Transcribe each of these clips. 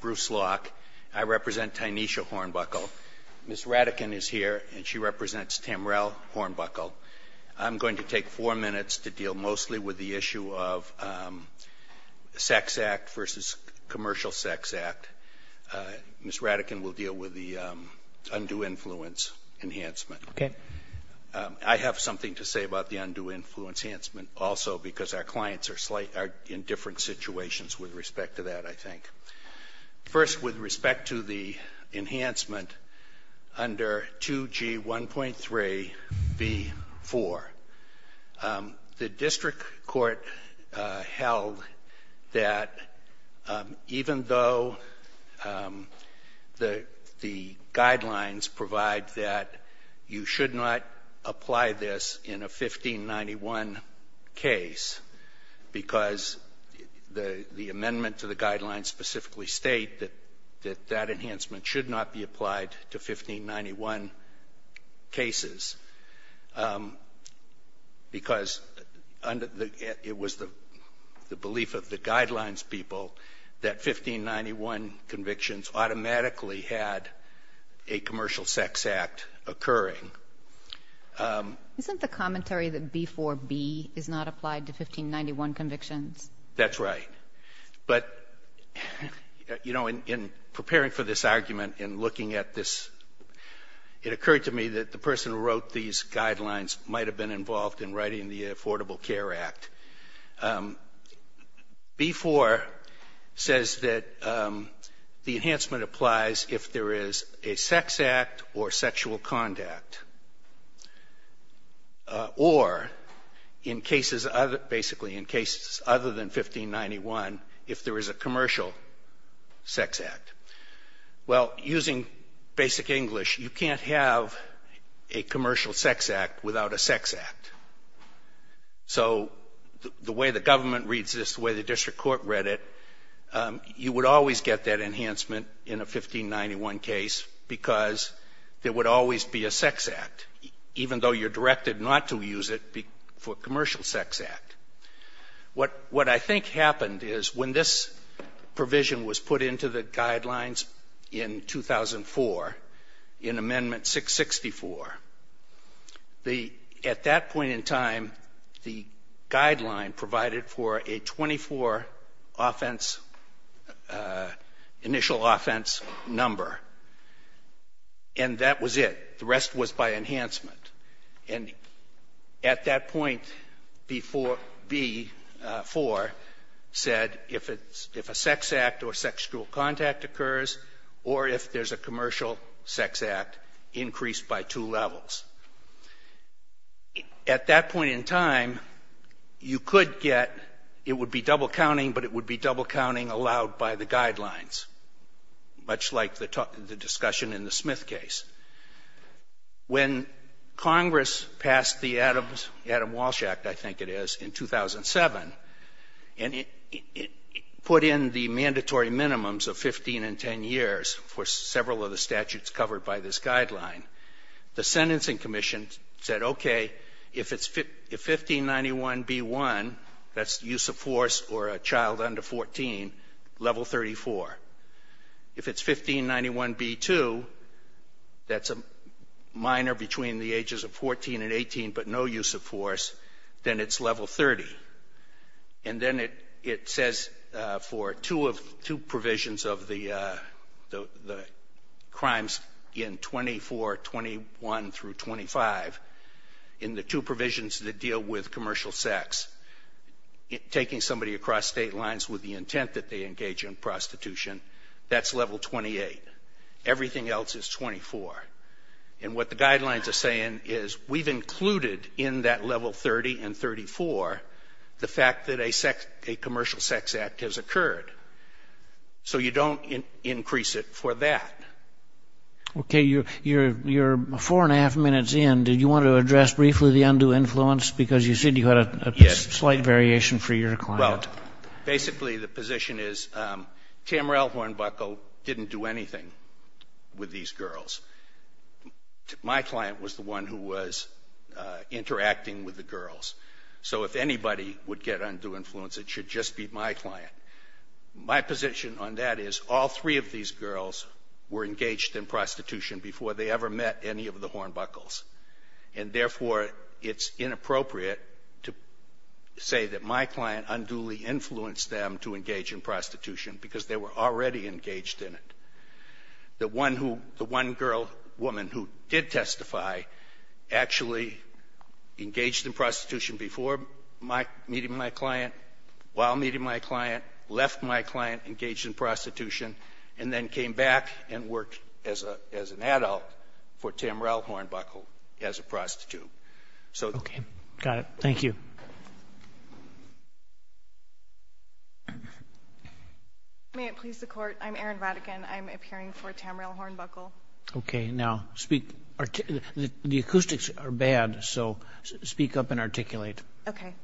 Bruce Locke. I represent Tynisha Hornbuckle. Ms. Radican is here and she represents Tamrel Hornbuckle. I'm going to take four minutes to deal mostly with the issue of Sex Act v. Commercial Sex Act. Ms. Radican will deal with the Undue Influence Enhancement. I have something to say about the Undue Influence Enhancement also because our clients are in different situations. First with respect to the enhancement under 2G 1.3 v. 4, the District Court held that even though the guidelines provide that you should not apply this in a 1591 case because the amendment to the guidelines specifically state that that enhancement should not be applied to 1591 cases because it was the belief of the guidelines people that 1591 convictions automatically had a commercial sex act occurring. Isn't the commentary that B-4B is not applied to 1591 convictions? Well, using basic English, you can't have a commercial sex act without a sex act. So the way the government reads this, the way the District Court read it, you would always get that enhancement in a 1591 case because there would always be a sex act. Even though you're directed not to use it for a commercial sex act. What I think happened is when this provision was put into the guidelines in 2004, in Amendment 664, at that point in time, the guideline provided for a 24 offense, initial offense number. And that was it. The rest was by enhancement. And at that point, B-4 said if a sex act or sexual contact occurs or if there's a commercial sex act, increase by two levels. At that point in time, you could get, it would be double counting, but it would be double counting allowed by the guidelines, much like the discussion in the Smith case. When Congress passed the Adams-Walsh Act, I think it is, in 2007, and it put in the mandatory minimums of 15 and 10 years for several of the statutes covered by this guideline, the Sentencing Commission said, okay, if it's 1591B-1, that's use of force or a child under 14, level 34. If it's 1591B-2, that's a minor between the ages of 14 and 18 but no use of force, then it's level 30. And then it says for two provisions of the crimes in 2421 through 25, in the two provisions that deal with commercial sex, taking somebody across state lines with the intent that they engage in prostitution, that's level 28. Everything else is 24. And what the guidelines are saying is we've included in that level 30 and 34 the fact that a commercial sex act has occurred. So you don't increase it for that. Okay, you're four and a half minutes in. Did you want to address briefly the undue influence because you said you had a slight variation for your client? Well, basically the position is Tamriel Hornbuckle didn't do anything with these girls. My client was the one who was interacting with the girls. So if anybody would get undue influence, it should just be my client. My position on that is all three of these girls were engaged in prostitution before they ever met any of the Hornbuckles. And therefore, it's inappropriate to say that my client unduly influenced them to engage in prostitution because they were already engaged in it. The one who, the one girl, woman who did testify actually engaged in prostitution before meeting my client, while meeting my client, left my client, engaged in prostitution, and then came back and worked as an adult for Tamriel Hornbuckle as a prostitute. Okay, got it. Thank you. May it please the Court, I'm Erin Vatican. I'm appearing for Tamriel Hornbuckle. Okay, now speak, the acoustics are bad, so speak up and articulate. Okay.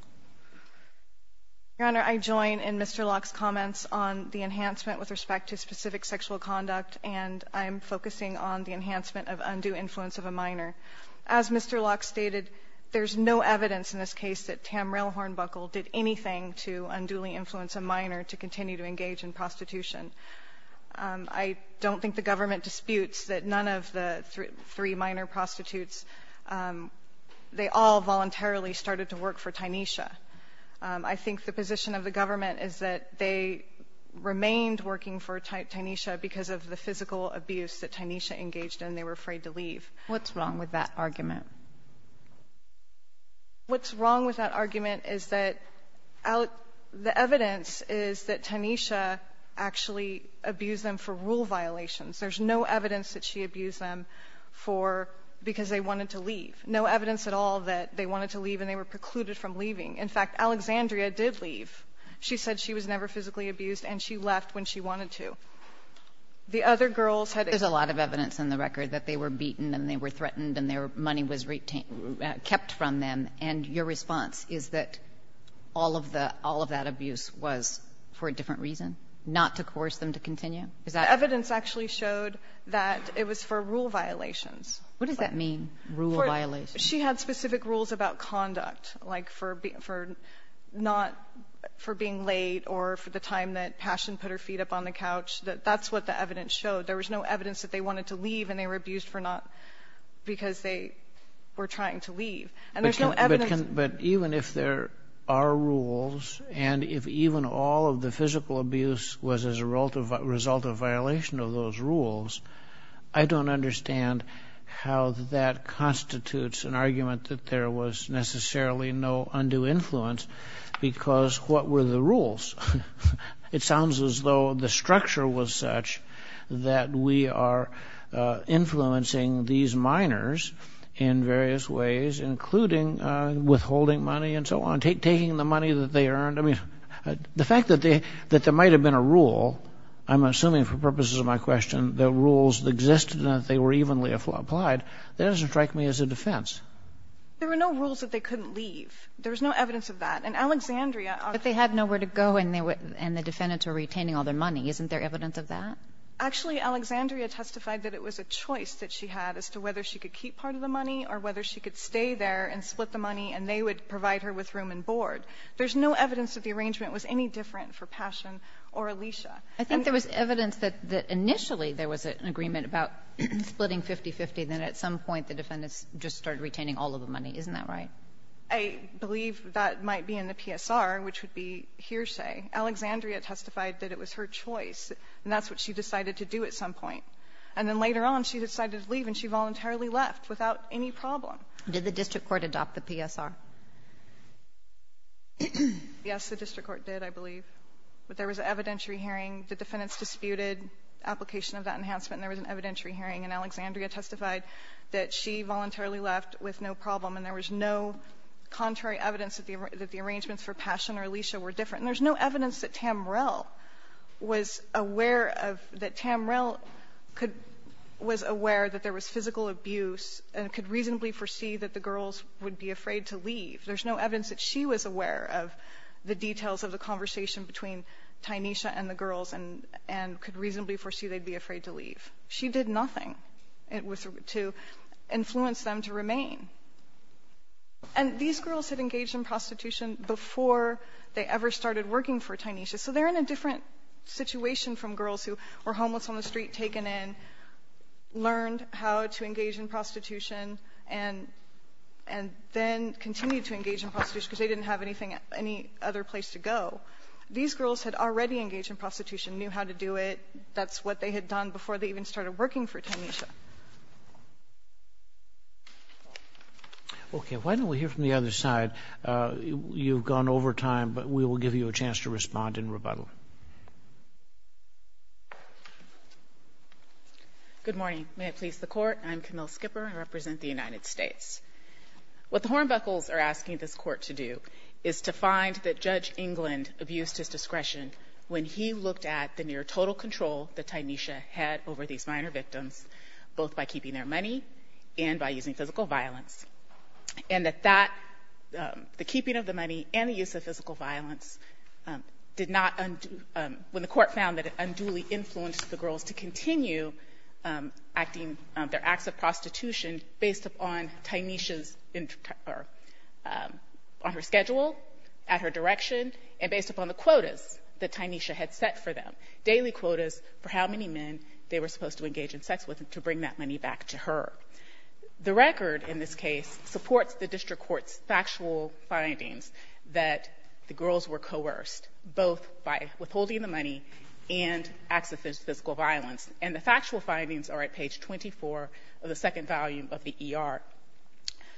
Your Honor, I join in Mr. Locke's comments on the enhancement with respect to specific sexual conduct, and I'm focusing on the enhancement of undue influence of a minor. As Mr. Locke stated, there's no evidence in this case that Tamriel Hornbuckle did anything to unduly influence a minor to continue to engage in prostitution. I don't think the government disputes that none of the three minor prostitutes, they all voluntarily started to work for Tynesha. I think the position of the government is that they remained working for Tynesha because of the physical abuse that Tynesha engaged in, they were afraid to leave. What's wrong with that argument? What's wrong with that argument is that the evidence is that Tynesha actually abused them for rule violations. There's no evidence that she abused them because they wanted to leave, no evidence at all that they wanted to leave and they were precluded from leaving. In fact, Alexandria did leave. She said she was never physically abused, and she left when she wanted to. There's a lot of evidence in the record that they were beaten and they were threatened and their money was kept from them, and your response is that all of that abuse was for a different reason, not to coerce them to continue? The evidence actually showed that it was for rule violations. What does that mean, rule violations? She had specific rules about conduct, like for being late or for the time that Passion put her feet up on the couch. That's what the evidence showed. There was no evidence that they wanted to leave and they were abused because they were trying to leave. But even if there are rules and if even all of the physical abuse was as a result of violation of those rules, I don't understand how that constitutes an argument that there was necessarily no undue influence because what were the rules? It sounds as though the structure was such that we are influencing these minors in various ways, including withholding money and so on, taking the money that they earned. I mean, the fact that there might have been a rule, I'm assuming for purposes of my question, that rules existed and that they were evenly applied, that doesn't strike me as a defense. There were no rules that they couldn't leave. There was no evidence of that. But they had nowhere to go and the defendants were retaining all their money. Isn't there evidence of that? Actually, Alexandria testified that it was a choice that she had as to whether she could keep part of the money or whether she could stay there and split the money and they would provide her with room and board. There's no evidence that the arrangement was any different for Passion or Alicia. I think there was evidence that initially there was an agreement about splitting 50-50 and then at some point the defendants just started retaining all of the money. Isn't that right? I believe that might be in the PSR, which would be hearsay. Alexandria testified that it was her choice and that's what she decided to do at some point. And then later on she decided to leave and she voluntarily left without any problem. Did the district court adopt the PSR? Yes, the district court did, I believe. But there was an evidentiary hearing. The defendants disputed application of that enhancement and there was an evidentiary hearing. And Alexandria testified that she voluntarily left with no problem and there was no contrary evidence that the arrangements for Passion or Alicia were different. And there's no evidence that Tamrell was aware of that Tamrell was aware that there was physical abuse and could reasonably foresee that the girls would be afraid to leave. There's no evidence that she was aware of the details of the conversation between Tynesha and the girls and could reasonably foresee they'd be afraid to leave. She did nothing to influence them to remain. And these girls had engaged in prostitution before they ever started working for Tynesha. So they're in a different situation from girls who were homeless on the street, taken in, learned how to engage in prostitution and then continued to engage in prostitution because they didn't have any other place to go. These girls had already engaged in prostitution, knew how to do it. That's what they had done before they even started working for Tynesha. Okay, why don't we hear from the other side? You've gone over time, but we will give you a chance to respond in rebuttal. Good morning. May it please the Court. I'm Camille Skipper. I represent the United States. What the Hornbuckles are asking this Court to do is to find that Judge England abused his discretion when he looked at the near total control that Tynesha had over these minor victims, both by keeping their money and by using physical violence, and that the keeping of the money and the use of physical violence did not undo, when the Court found that it unduly influenced the girls to continue acting, their acts of prostitution based upon Tynesha's, on her schedule, at her direction, and based upon the quotas that Tynesha had set for them, daily quotas for how many men they were supposed to engage in sex with and to bring that money back to her. The record, in this case, supports the District Court's factual findings that the girls were coerced, both by withholding the money and acts of physical violence, and the factual findings are at page 24 of the second volume of the ER.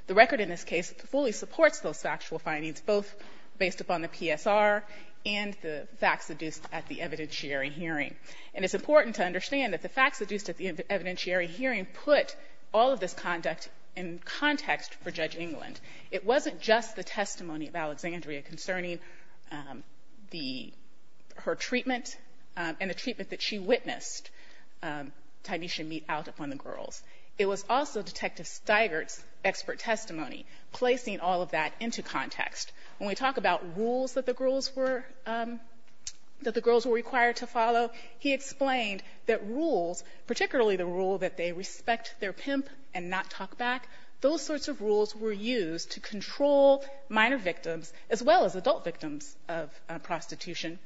The record, in this case, fully supports those factual findings, both based upon the PSR and the facts adduced at the evidentiary hearing. And it's important to understand that the facts adduced at the evidentiary hearing put all of this conduct in context for Judge England. It wasn't just the testimony of Alexandria concerning her treatment and the treatment that she witnessed Tynesha meet out upon the girls. It was also Detective Steigert's expert testimony placing all of that into context. When we talk about rules that the girls were required to follow, he explained that rules, particularly the rule that they respect their pimp and not talk back, those sorts of rules were used to control minor victims as well as adult victims of prostitution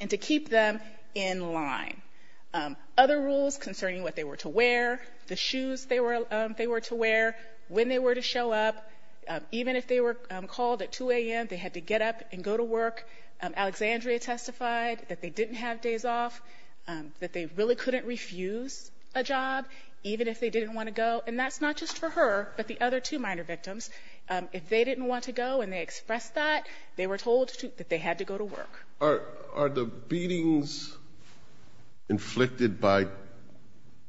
and to keep them in line. Other rules concerning what they were to wear, the shoes they were to wear, when they were to show up, even if they were called at 2 a.m., they had to get up and go to work. Alexandria testified that they didn't have days off, that they really couldn't refuse a job even if they didn't want to go, and that's not just for her but the other two minor victims. If they didn't want to go and they expressed that, they were told that they had to go to work. Are the beatings inflicted by, I'm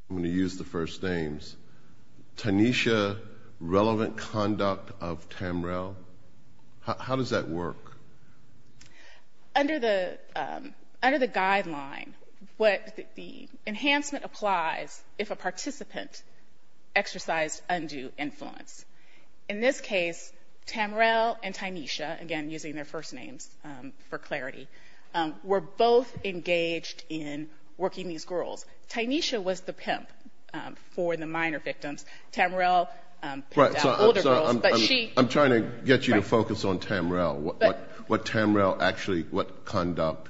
going to use the first names, Tynesha, relevant conduct of Tamrel? How does that work? Under the guideline, the enhancement applies if a participant exercised undue influence. In this case, Tamrel and Tynesha, again using their first names for clarity, were both engaged in working these girls. Tynesha was the pimp for the minor victims. Tamrel pimped out older girls. I'm trying to get you to focus on Tamrel, what Tamrel actually, what conduct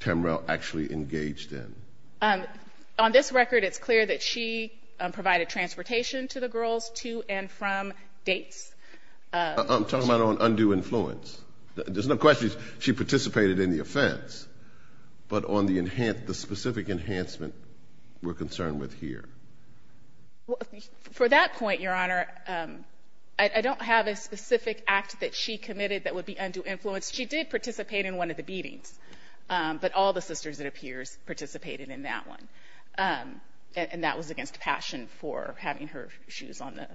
Tamrel actually engaged in. On this record, it's clear that she provided transportation to the girls to and from dates. I'm talking about on undue influence. There's no question she participated in the offense, but on the specific enhancement we're concerned with here. For that point, Your Honor, I don't have a specific act that she committed that would be undue influence. She did participate in one of the beatings, but all the sisters, it appears, participated in that one, and that was against passion for having her shoes on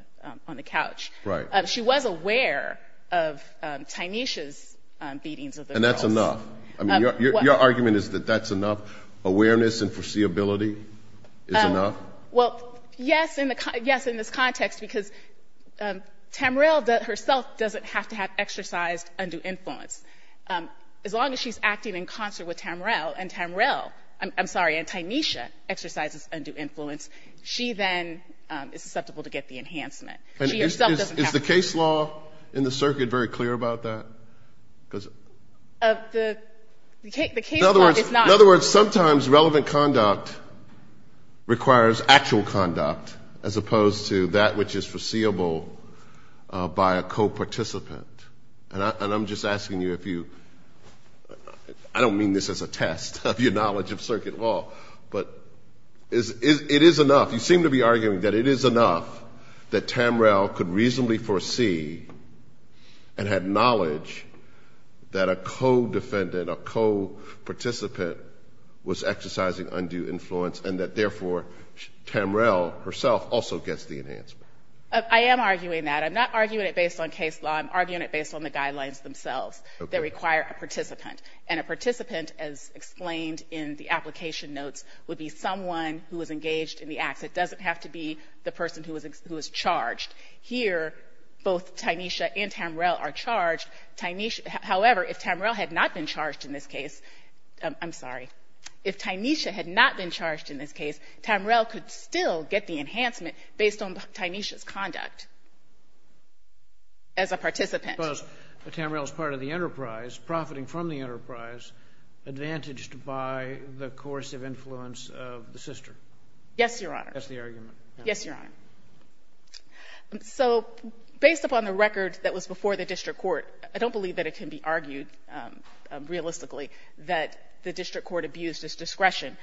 the couch. Right. She was aware of Tynesha's beatings of the girls. That's enough. I mean, your argument is that that's enough? Awareness and foreseeability is enough? Well, yes, in this context, because Tamrel herself doesn't have to have exercised undue influence. As long as she's acting in concert with Tamrel, and Tamrel, I'm sorry, and Tynesha exercises undue influence, she then is susceptible to get the enhancement. She herself doesn't have to. Is the case law in the circuit very clear about that? The case law is not. In other words, sometimes relevant conduct requires actual conduct as opposed to that which is foreseeable by a co-participant. And I'm just asking you if you – I don't mean this as a test of your knowledge of circuit law, but it is enough. You seem to be arguing that it is enough that Tamrel could reasonably foresee and had knowledge that a co-defendant, a co-participant was exercising undue influence and that, therefore, Tamrel herself also gets the enhancement. I am arguing that. I'm not arguing it based on case law. I'm arguing it based on the guidelines themselves that require a participant. And a participant, as explained in the application notes, would be someone who is engaged in the acts. It doesn't have to be the person who is charged. Here, both Tynesha and Tamrel are charged. However, if Tamrel had not been charged in this case – I'm sorry. If Tynesha had not been charged in this case, Tamrel could still get the enhancement based on Tynesha's conduct as a participant. I suppose that Tamrel is part of the enterprise, profiting from the enterprise, advantaged by the coercive influence of the sister. Yes, Your Honor. That's the argument. Yes, Your Honor. So based upon the record that was before the district court, I don't believe that it can be argued realistically that the district court abused its discretion.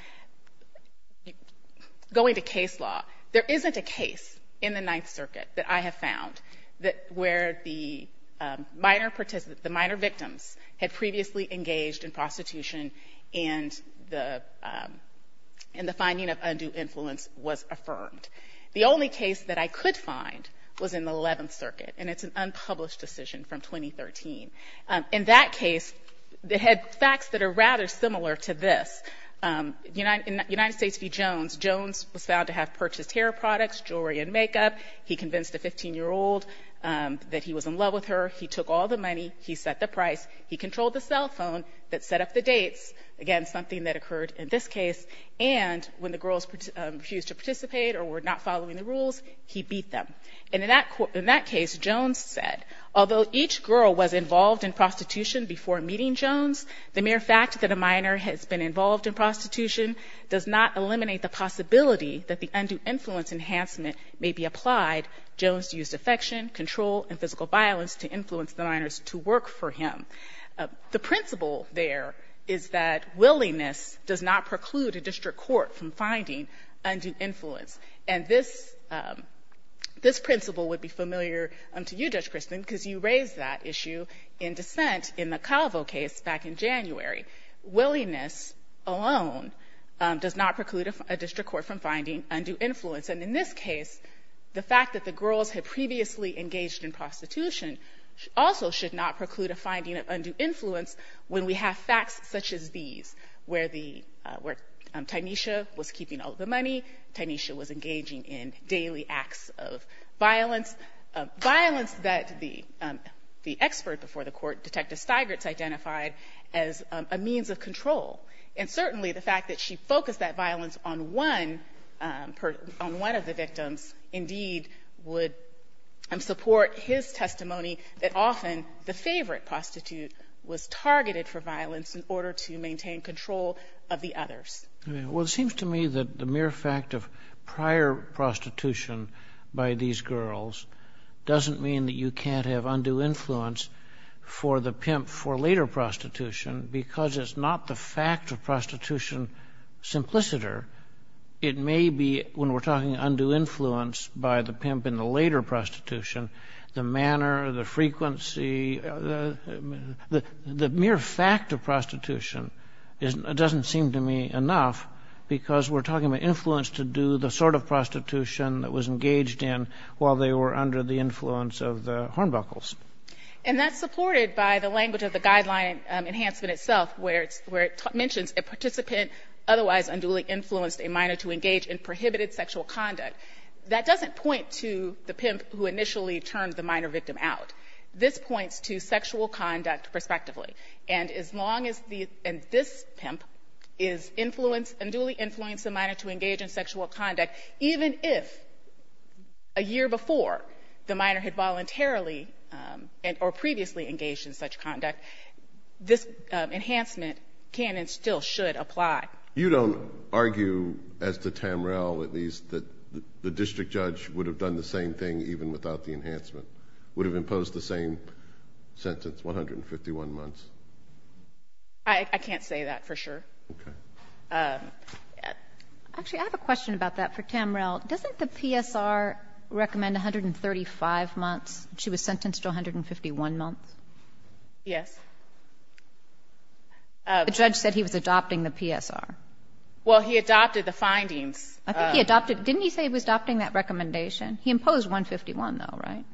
Going to case law, there isn't a case in the Ninth Circuit that I have found where the minor participants, the minor victims had previously engaged in prostitution and the finding of undue influence was affirmed. The only case that I could find was in the Eleventh Circuit, and it's an unpublished decision from 2013. In that case, it had facts that are rather similar to this. In United States v. Jones, Jones was found to have purchased hair products, jewelry, and makeup. He convinced a 15-year-old that he was in love with her. He took all the money. He set the price. He controlled the cell phone that set up the dates, again, something that occurred in this case. And when the girls refused to participate or were not following the rules, he beat them. And in that case, Jones said, although each girl was involved in prostitution before meeting Jones, the mere fact that a minor has been involved in prostitution does not eliminate the possibility that the undue influence enhancement may be applied. Jones used affection, control, and physical violence to influence the minors to work for him. The principle there is that willingness does not preclude a district court from finding undue influence. And this principle would be familiar to you, Judge Christin, because you raised that issue in dissent in the Calvo case back in January. Willingness alone does not preclude a district court from finding undue influence. And in this case, the fact that the girls had previously engaged in prostitution also should not preclude a finding of undue influence when we have facts such as these, where Tynesha was keeping all of the money, Tynesha was engaging in daily acts of violence, violence that the expert before the court, Detective Stigert, identified as a means of control. And certainly the fact that she focused that violence on one of the victims, indeed, would support his testimony that often the favorite prostitute was targeted for violence in order to maintain control of the others. Well, it seems to me that the mere fact of prior prostitution by these girls doesn't mean that you can't have undue influence for the pimp for later prostitution because it's not the fact of prostitution simpliciter. It may be, when we're talking undue influence by the pimp in the later prostitution, the manner, the frequency, the mere fact of prostitution doesn't seem to me enough because we're talking about influence to do the sort of prostitution that was engaged in while they were under the influence of the Hornbuckles. And that's supported by the language of the guideline enhancement itself, where it mentions a participant otherwise unduly influenced a minor to engage in prohibited sexual conduct. That doesn't point to the pimp who initially turned the minor victim out. This points to sexual conduct prospectively. And as long as this pimp is influenced, unduly influenced a minor to engage in sexual conduct, even if a year before the minor had voluntarily or previously engaged in such conduct, this enhancement can and still should apply. You don't argue, as to Tamrell at least, that the district judge would have done the same thing even without the enhancement, would have imposed the same sentence, 151 months? I can't say that for sure. Okay. Actually, I have a question about that for Tamrell. Doesn't the PSR recommend 135 months? She was sentenced to 151 months. Yes. The judge said he was adopting the PSR. Well, he adopted the findings. I think he adopted it. Didn't he say he was adopting that recommendation? He imposed 151, though, right?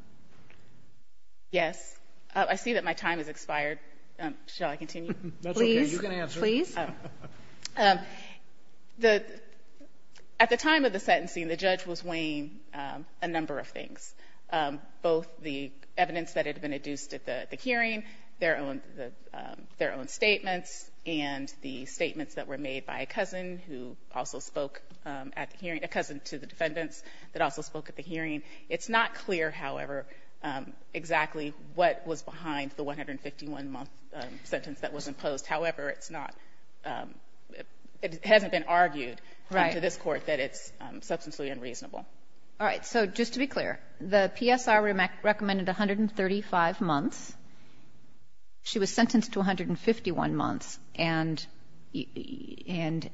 Yes. I see that my time has expired. Shall I continue? That's okay. You can answer. Please. At the time of the sentencing, the judge was weighing a number of things, both the evidence that had been adduced at the hearing, their own statements, and the statements that were made by a cousin who also spoke at the hearing, a cousin to the defendants that also spoke at the hearing. It's not clear, however, exactly what was behind the 151-month sentence that was imposed. However, it's not – it hasn't been argued into this Court that it's substantially unreasonable. All right. So just to be clear, the PSR recommended 135 months. She was sentenced to 151 months, and am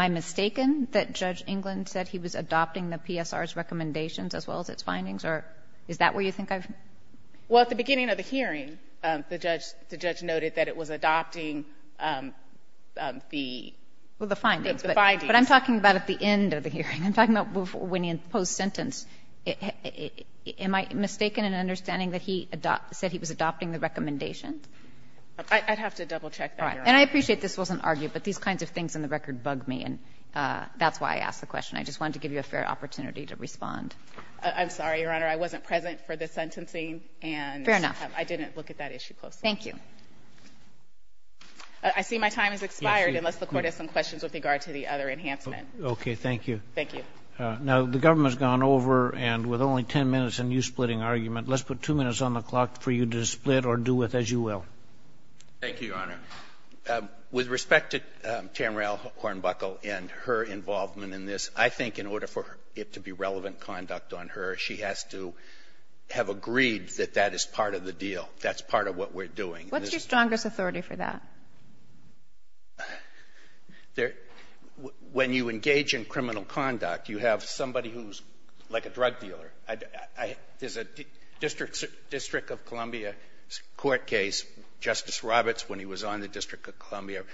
I mistaken that Judge England said he was adopting the PSR's recommendations as well as its findings, or is that where you think I've – Well, at the beginning of the hearing, the judge noted that it was adopting the findings. I'm talking about when he imposed sentence. Am I mistaken in understanding that he said he was adopting the recommendations? I'd have to double-check that, Your Honor. And I appreciate this wasn't argued, but these kinds of things in the record bug me, and that's why I asked the question. I just wanted to give you a fair opportunity to respond. I'm sorry, Your Honor. I wasn't present for the sentencing, and I didn't look at that issue closely. Fair enough. Thank you. I see my time has expired, unless the Court has some questions with regard to the other enhancement. Okay. Thank you. Thank you. Now, the government has gone over, and with only 10 minutes and you splitting argument, let's put two minutes on the clock for you to split or do with as you will. Thank you, Your Honor. With respect to Tamriel Hornbuckle and her involvement in this, I think in order for it to be relevant conduct on her, she has to have agreed that that is part of the deal. That's part of what we're doing. What's your strongest authority for that? When you engage in criminal conduct, you have somebody who's like a drug dealer. There's a District of Columbia court case. Justice Roberts, when he was on the District of Columbia,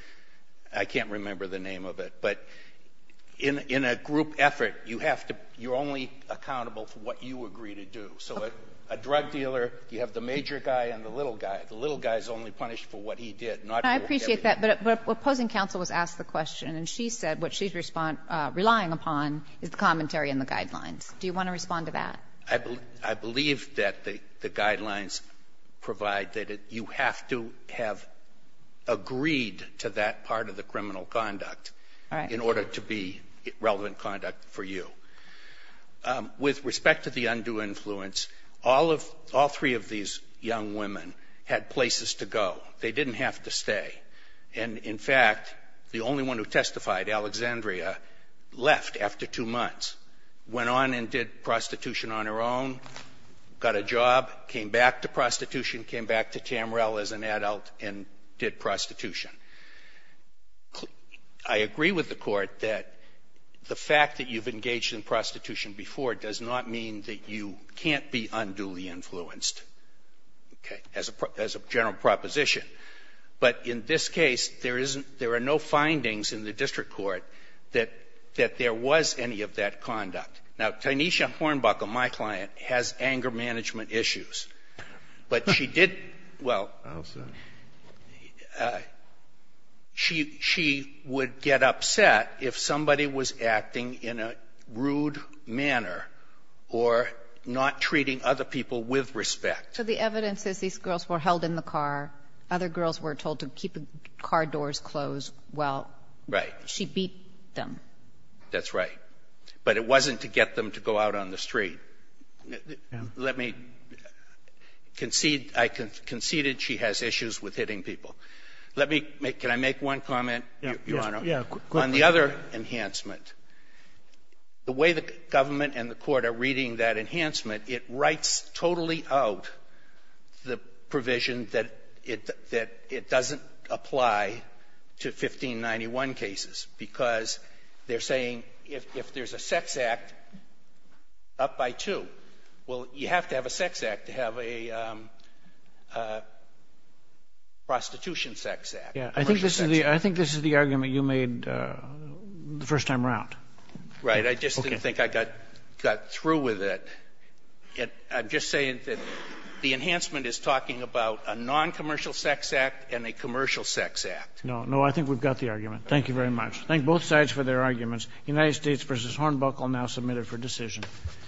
I can't remember the name of it. But in a group effort, you're only accountable for what you agree to do. So a drug dealer, you have the major guy and the little guy. The little guy is only punished for what he did. I appreciate that. But opposing counsel was asked the question. And she said what she's relying upon is the commentary and the guidelines. Do you want to respond to that? I believe that the guidelines provide that you have to have agreed to that part of the criminal conduct in order to be relevant conduct for you. With respect to the undue influence, all three of these young women had places to go. They didn't have to stay. And, in fact, the only one who testified, Alexandria, left after two months, went on and did prostitution on her own, got a job, came back to prostitution, came back to Tamriel as an adult and did prostitution. I agree with the Court that the fact that you've engaged in prostitution before does not mean that you can't be unduly influenced. Okay. As a general proposition. But in this case, there are no findings in the district court that there was any of that conduct. Now, Tynesha Hornbuckle, my client, has anger management issues. But she did well. I understand. She would get upset if somebody was acting in a rude manner or not treating other people with respect. So the evidence is these girls were held in the car. Other girls were told to keep car doors closed while she beat them. Right. That's right. But it wasn't to get them to go out on the street. Let me concede. I conceded she has issues with hitting people. Let me make one comment, Your Honor, on the other enhancement. The way the government and the Court are reading that enhancement, it writes totally out the provision that it doesn't apply to 1591 cases because they're saying if there's a sex act, up by two. Well, you have to have a sex act to have a prostitution sex act. I think this is the argument you made the first time around. Right. I just didn't think I got through with it. I'm just saying that the enhancement is talking about a noncommercial sex act and a commercial sex act. No, I think we've got the argument. Thank you very much. Thank both sides for their arguments. United States v. Hornbuckle now submitted for decision.